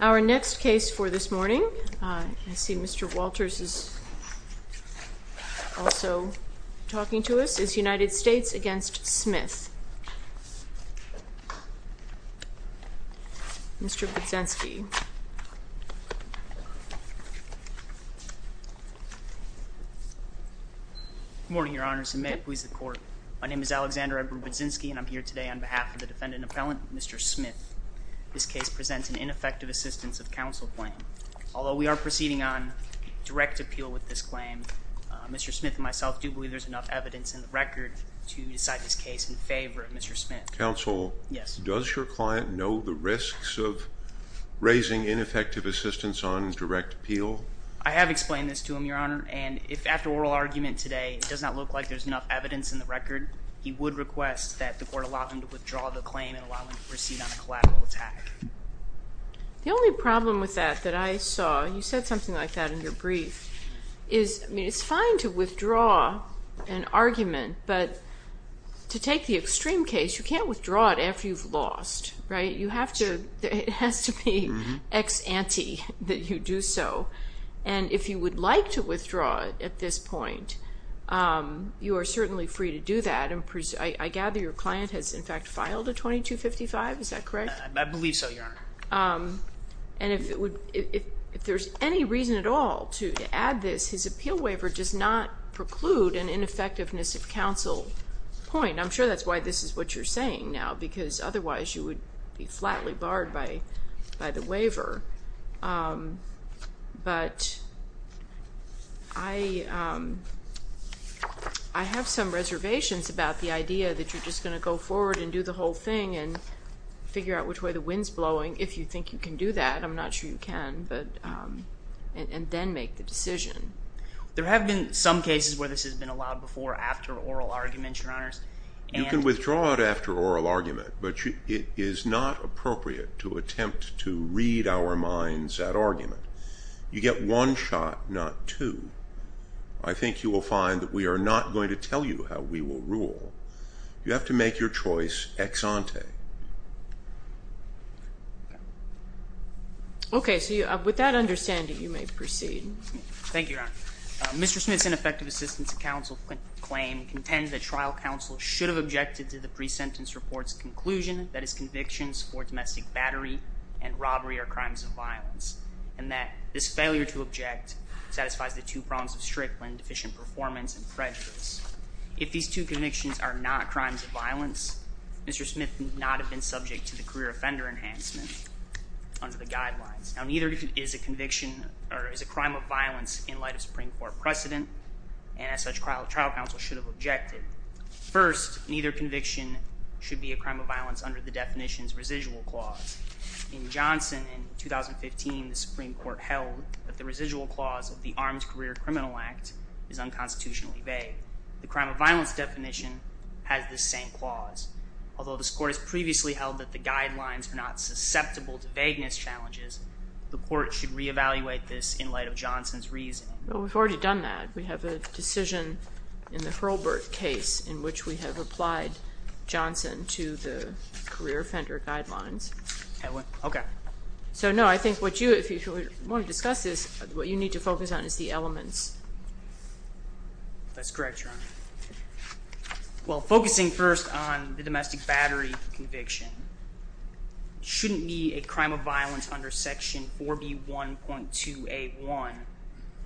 Our next case for this morning, I see Mr. Walters is also talking to us, is the United States v. Smith. Mr. Budzinski. Alexander Edward Budzinski Good morning, Your Honor, and may it please the Court. My name is Alexander Edward Budzinski, and I'm here today on behalf of the defendant and appellant, Mr. Smith. This case presents an ineffective assistance of counsel claim. Although we are proceeding on direct appeal with this claim, Mr. Smith and myself do believe there's enough evidence in the record to decide this case in favor of Mr. Smith. Counsel, does your client know the risks of raising ineffective assistance on direct appeal? I have explained this to him, Your Honor, and if after oral argument today it does not look like there's enough evidence in the record, he would request that the Court allow him to withdraw the claim and allow him to proceed on a collateral attack. The only problem with that that I saw, you said something like that in your brief, is, I mean, it's fine to withdraw an argument, but to take the extreme case, you can't withdraw it after you've lost, right? You have to, it has to be ex ante that you do so, and if you would like to withdraw at this point, you are certainly free to do that, and I gather your client has in fact filed a 2255, is that correct? I believe so, Your Honor. And if there's any reason at all to add this, his appeal waiver does not preclude an ineffectiveness of counsel point. I'm sure that's why this is what you're saying now, because otherwise you would be flatly barred by the waiver. But I have some reservations about the idea that you're just going to go forward and do the whole thing and figure out which way the wind's blowing, if you think you can do that, I'm not sure you can, but, and then make the decision. There have been some cases where this has been allowed before after oral argument, Your Honors. You can withdraw it after oral argument, but it is not appropriate to attempt to read our minds at argument. You get one shot, not two. I think you will find that we are not going to tell you how we will rule. You have to make your choice ex ante. Okay, so with that understanding, you may proceed. Thank you, Your Honor. Mr. Smith's ineffective assistance of counsel claim contends that trial counsel should have objected to the pre-sentence report's conclusion that his convictions for domestic battery and robbery are crimes of violence. And that this failure to object satisfies the two prongs of Strickland, deficient performance and prejudice. If these two convictions are not crimes of violence, Mr. Smith would not have been subject to the career offender enhancement under the guidelines. Now, neither is a conviction or is a crime of violence in light of Supreme Court precedent. And as such, trial counsel should have objected. First, neither conviction should be a crime of violence under the definition's residual clause. In Johnson in 2015, the Supreme Court held that the residual clause of the Armed Career Criminal Act is unconstitutionally vague. The crime of violence definition has the same clause. Although this court has previously held that the guidelines are not susceptible to vagueness challenges, the court should reevaluate this in light of Johnson's reasoning. Well, we've already done that. We have a decision in the Hurlburt case in which we have applied Johnson to the career offender guidelines. Okay. So, no, I think what you, if you want to discuss this, what you need to focus on is the elements. That's correct, Your Honor. Well, focusing first on the domestic battery conviction shouldn't be a crime of violence under Section 4B1.2A1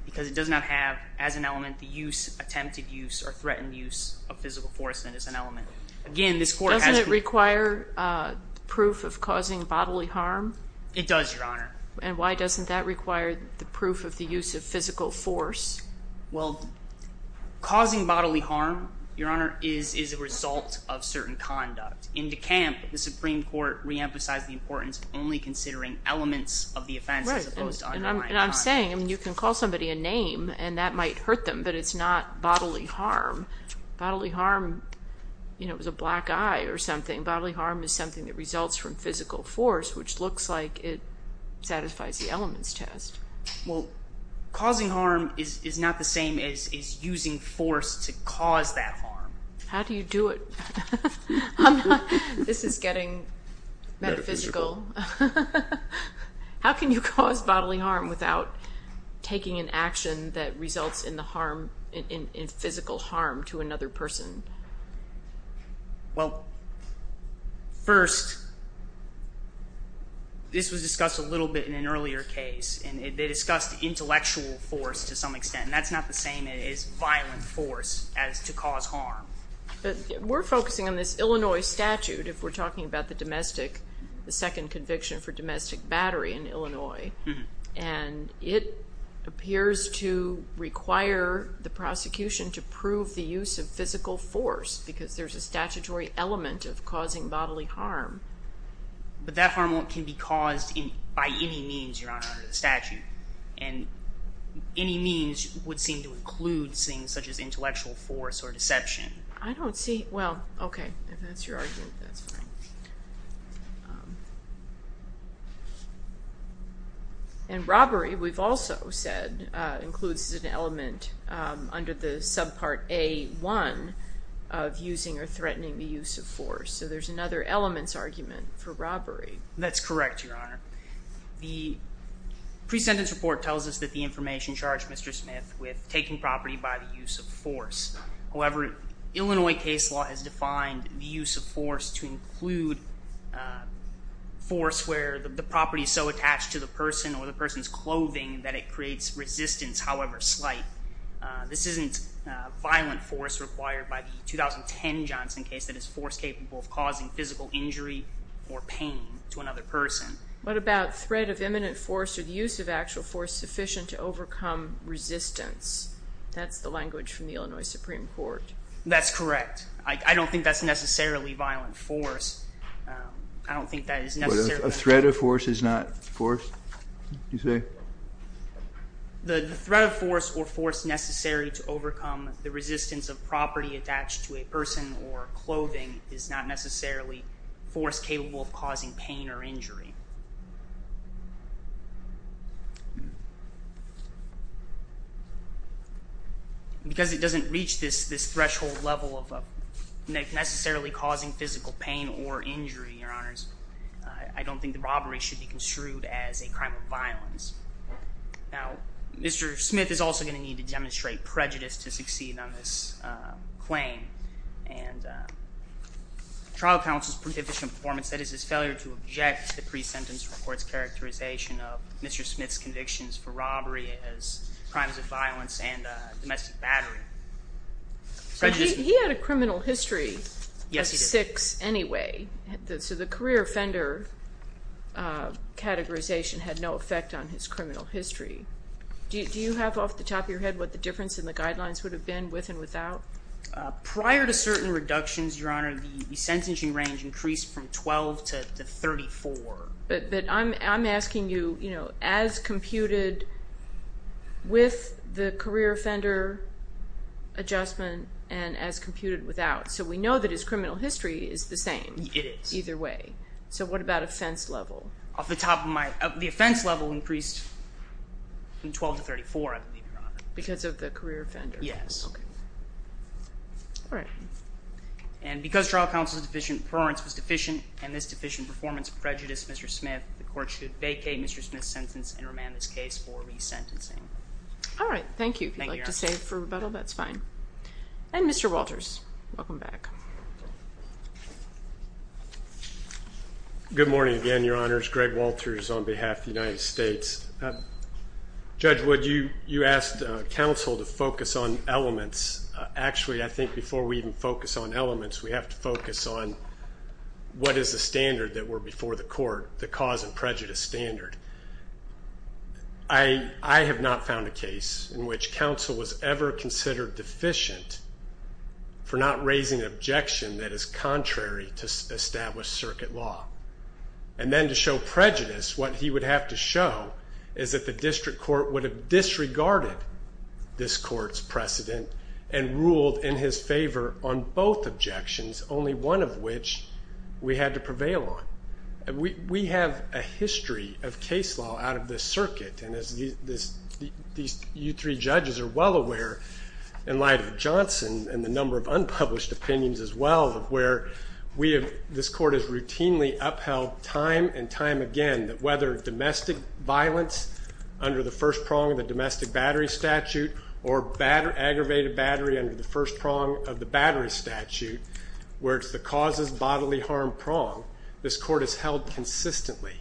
because it does not have as an element the use, attempted use, or threatened use of physical force that is an element. Again, this court has- Doesn't it require proof of causing bodily harm? It does, Your Honor. And why doesn't that require the proof of the use of physical force? Well, causing bodily harm, Your Honor, is a result of certain conduct. In De Camp, the Supreme Court reemphasized the importance of only considering elements of the offense as opposed to underlying conduct. Right, and I'm saying, I mean, you can call somebody a name and that might hurt them, but it's not bodily harm. Bodily harm, you know, is a black eye or something. Bodily harm is something that results from physical force, which looks like it satisfies the elements test. Well, causing harm is not the same as using force to cause that harm. How do you do it? This is getting metaphysical. How can you cause bodily harm without taking an action that results in physical harm to another person? Well, first, this was discussed a little bit in an earlier case, and they discussed intellectual force to some extent, and that's not the same as violent force as to cause harm. We're focusing on this Illinois statute, if we're talking about the domestic, the second conviction for domestic battery in Illinois, and it appears to require the prosecution to prove the use of physical force because there's a statutory element of causing bodily harm. But that harm can be caused by any means, Your Honor, under the statute, and any means would seem to include things such as intellectual force or deception. I don't see, well, okay, if that's your argument, that's fine. And robbery, we've also said, includes an element under the subpart A1 of using or threatening the use of force, so there's another elements argument for robbery. That's correct, Your Honor. The pre-sentence report tells us that the information charged Mr. Smith with taking property by the use of force. However, Illinois case law has defined the use of force to include force where the property is so attached to the person or the person's clothing that it creates resistance, however slight. This isn't violent force required by the 2010 Johnson case that is force capable of causing physical injury or pain to another person. What about threat of imminent force or the use of actual force sufficient to overcome resistance? That's the language from the Illinois Supreme Court. That's correct. I don't think that's necessarily violent force. I don't think that is necessary. A threat of force is not force, you say? The threat of force or force necessary to overcome the resistance of property attached to a person or clothing is not necessarily force capable of causing pain or injury. Because it doesn't reach this threshold level of necessarily causing physical pain or injury, Your Honors, I don't think the robbery should be construed as a crime of violence. Now, Mr. Smith is also going to need to demonstrate prejudice to succeed on this claim. And trial counsel's prejudicial performance, that is his failure to object to the pre-sentence report's characterization of Mr. Smith's convictions for robbery as crimes of violence and domestic battery. He had a criminal history of six anyway. So the career offender categorization had no effect on his criminal history. Do you have off the top of your head what the difference in the guidelines would have been with and without? Prior to certain reductions, Your Honor, the sentencing range increased from 12 to 34. But I'm asking you, you know, as computed with the career offender adjustment and as computed without. So we know that his criminal history is the same. It is. Either way. So what about offense level? Off the top of my, the offense level increased from 12 to 34, I believe, Your Honor. Because of the career offender. Yes. Okay. All right. And because trial counsel's deficient preference was deficient and this deficient performance prejudiced Mr. Smith, the court should vacate Mr. Smith's sentence and remand this case for resentencing. All right. Thank you. Thank you, Your Honor. If you'd like to save for rebuttal, that's fine. And Mr. Walters, welcome back. Good morning again, Your Honors. Greg Walters on behalf of the United States. Judge Wood, you asked counsel to focus on elements. Actually, I think before we even focus on elements, we have to focus on what is the standard that were before the court, the cause and prejudice standard. I have not found a case in which counsel was ever considered deficient for not raising an objection that is contrary to established circuit law. And then to show prejudice, what he would have to show is that the district court would have disregarded this court's precedent and ruled in his favor on both objections, only one of which we had to prevail on. We have a history of case law out of this circuit. And as these three judges are well aware, in light of Johnson and the number of unpublished opinions as well, where this court has routinely upheld time and time again that whether domestic violence under the first prong of the domestic battery statute or aggravated battery under the first prong of the battery statute, where it's the causes bodily harm prong, this court has held consistently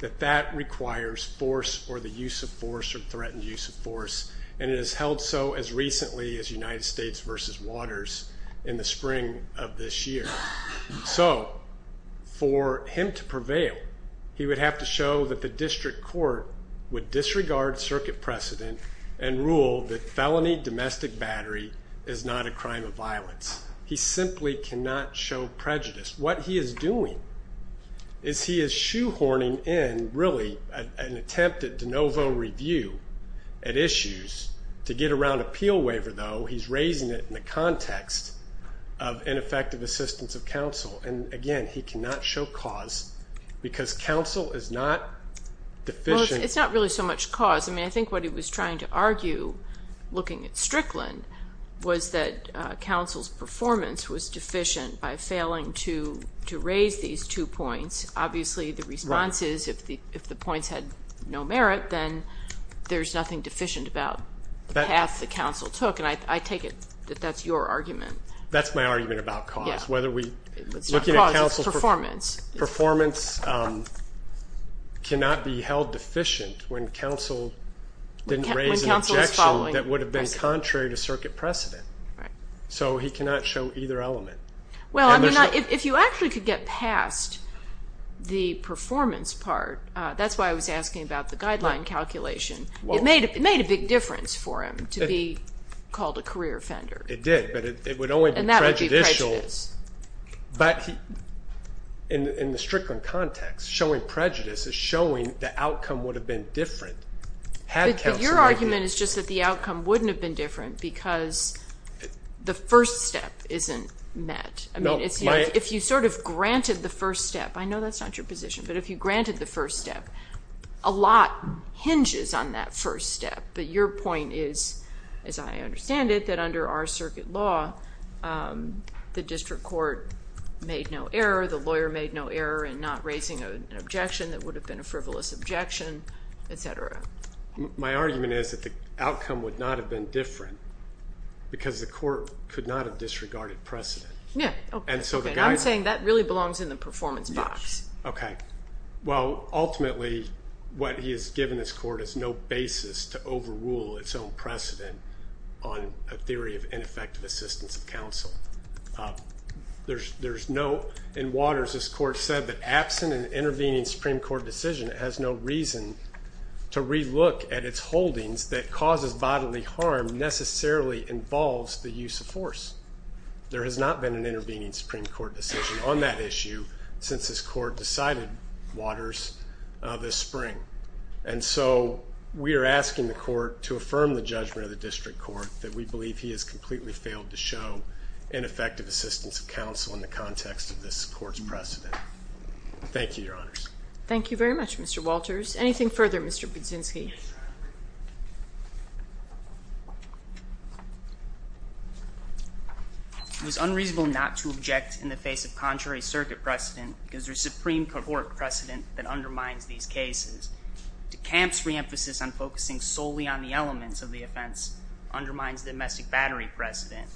that that requires force or the use of force or threatened use of force. And it has held so as recently as United States versus Waters in the spring of this year. So for him to prevail, he would have to show that the district court would disregard circuit precedent and rule that felony domestic battery is not a crime of violence. He simply cannot show prejudice. What he is doing is he is shoehorning in, really, an attempt at de novo review at issues. To get around appeal waiver, though, he's raising it in the context of ineffective assistance of counsel. And, again, he cannot show cause because counsel is not deficient. Well, it's not really so much cause. I mean, I think what he was trying to argue, looking at Strickland, was that counsel's performance was deficient by failing to raise these two points. Obviously, the response is if the points had no merit, then there's nothing deficient about half the counsel took. And I take it that that's your argument. That's my argument about cause. It's not cause, it's performance. Performance cannot be held deficient when counsel didn't raise an objection that would have been contrary to circuit precedent. Right. So he cannot show either element. Well, I mean, if you actually could get past the performance part, that's why I was asking about the guideline calculation. It made a big difference for him to be called a career offender. It did, but it would only be prejudicial. And that would be prejudice. But in the Strickland context, showing prejudice is showing the outcome would have been different had counsel not been. Your argument is just that the outcome wouldn't have been different because the first step isn't met. I mean, if you sort of granted the first step, I know that's not your position, but if you granted the first step, a lot hinges on that first step. But your point is, as I understand it, that under our circuit law, the district court made no error, the lawyer made no error in not raising an objection that would have been a frivolous objection, et cetera. My argument is that the outcome would not have been different because the court could not have disregarded precedent. Yeah. And so the guideline. I'm saying that really belongs in the performance box. Okay. Well, ultimately, what he has given this court is no basis to overrule its own precedent on a theory of ineffective assistance of counsel. There's no, in Waters, this court said that absent an intervening Supreme Court decision, it has no reason to relook at its holdings that causes bodily harm necessarily involves the use of force. There has not been an intervening Supreme Court decision on that issue since this court decided, Waters, this spring. And so we are asking the court to affirm the judgment of the district court that we believe he has completely failed to show ineffective assistance of counsel in the context of this court's precedent. Thank you, Your Honors. Thank you very much, Mr. Walters. Anything further, Mr. Budzinski? It was unreasonable not to object in the face of contrary circuit precedent because there's Supreme Court precedent that undermines these cases. De Camp's reemphasis on focusing solely on the elements of the offense undermines domestic battery precedent.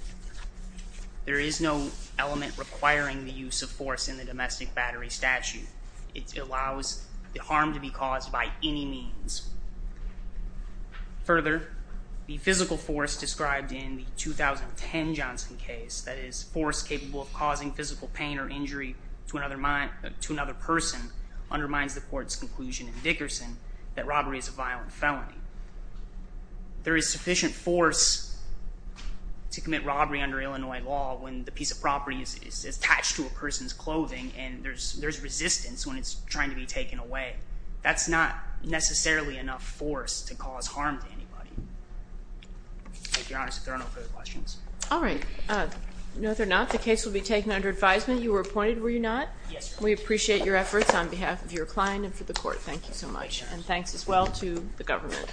There is no element requiring the use of force in the domestic battery statute. It allows the harm to be caused by any means. Further, the physical force described in the 2010 Johnson case, that is force capable of causing physical pain or injury to another person, undermines the court's conclusion in Dickerson that robbery is a violent felony. There is sufficient force to commit robbery under Illinois law when the piece of property is attached to a person's clothing and there's resistance when it's trying to be taken away. That's not necessarily enough force to cause harm to anybody. Thank you, Your Honors. If there are no further questions. All right. No, there are not. The case will be taken under advisement. You were appointed, were you not? Yes, Your Honor. We appreciate your efforts on behalf of your client and for the court. Thank you so much. Thank you, Your Honor. And thanks as well to the government.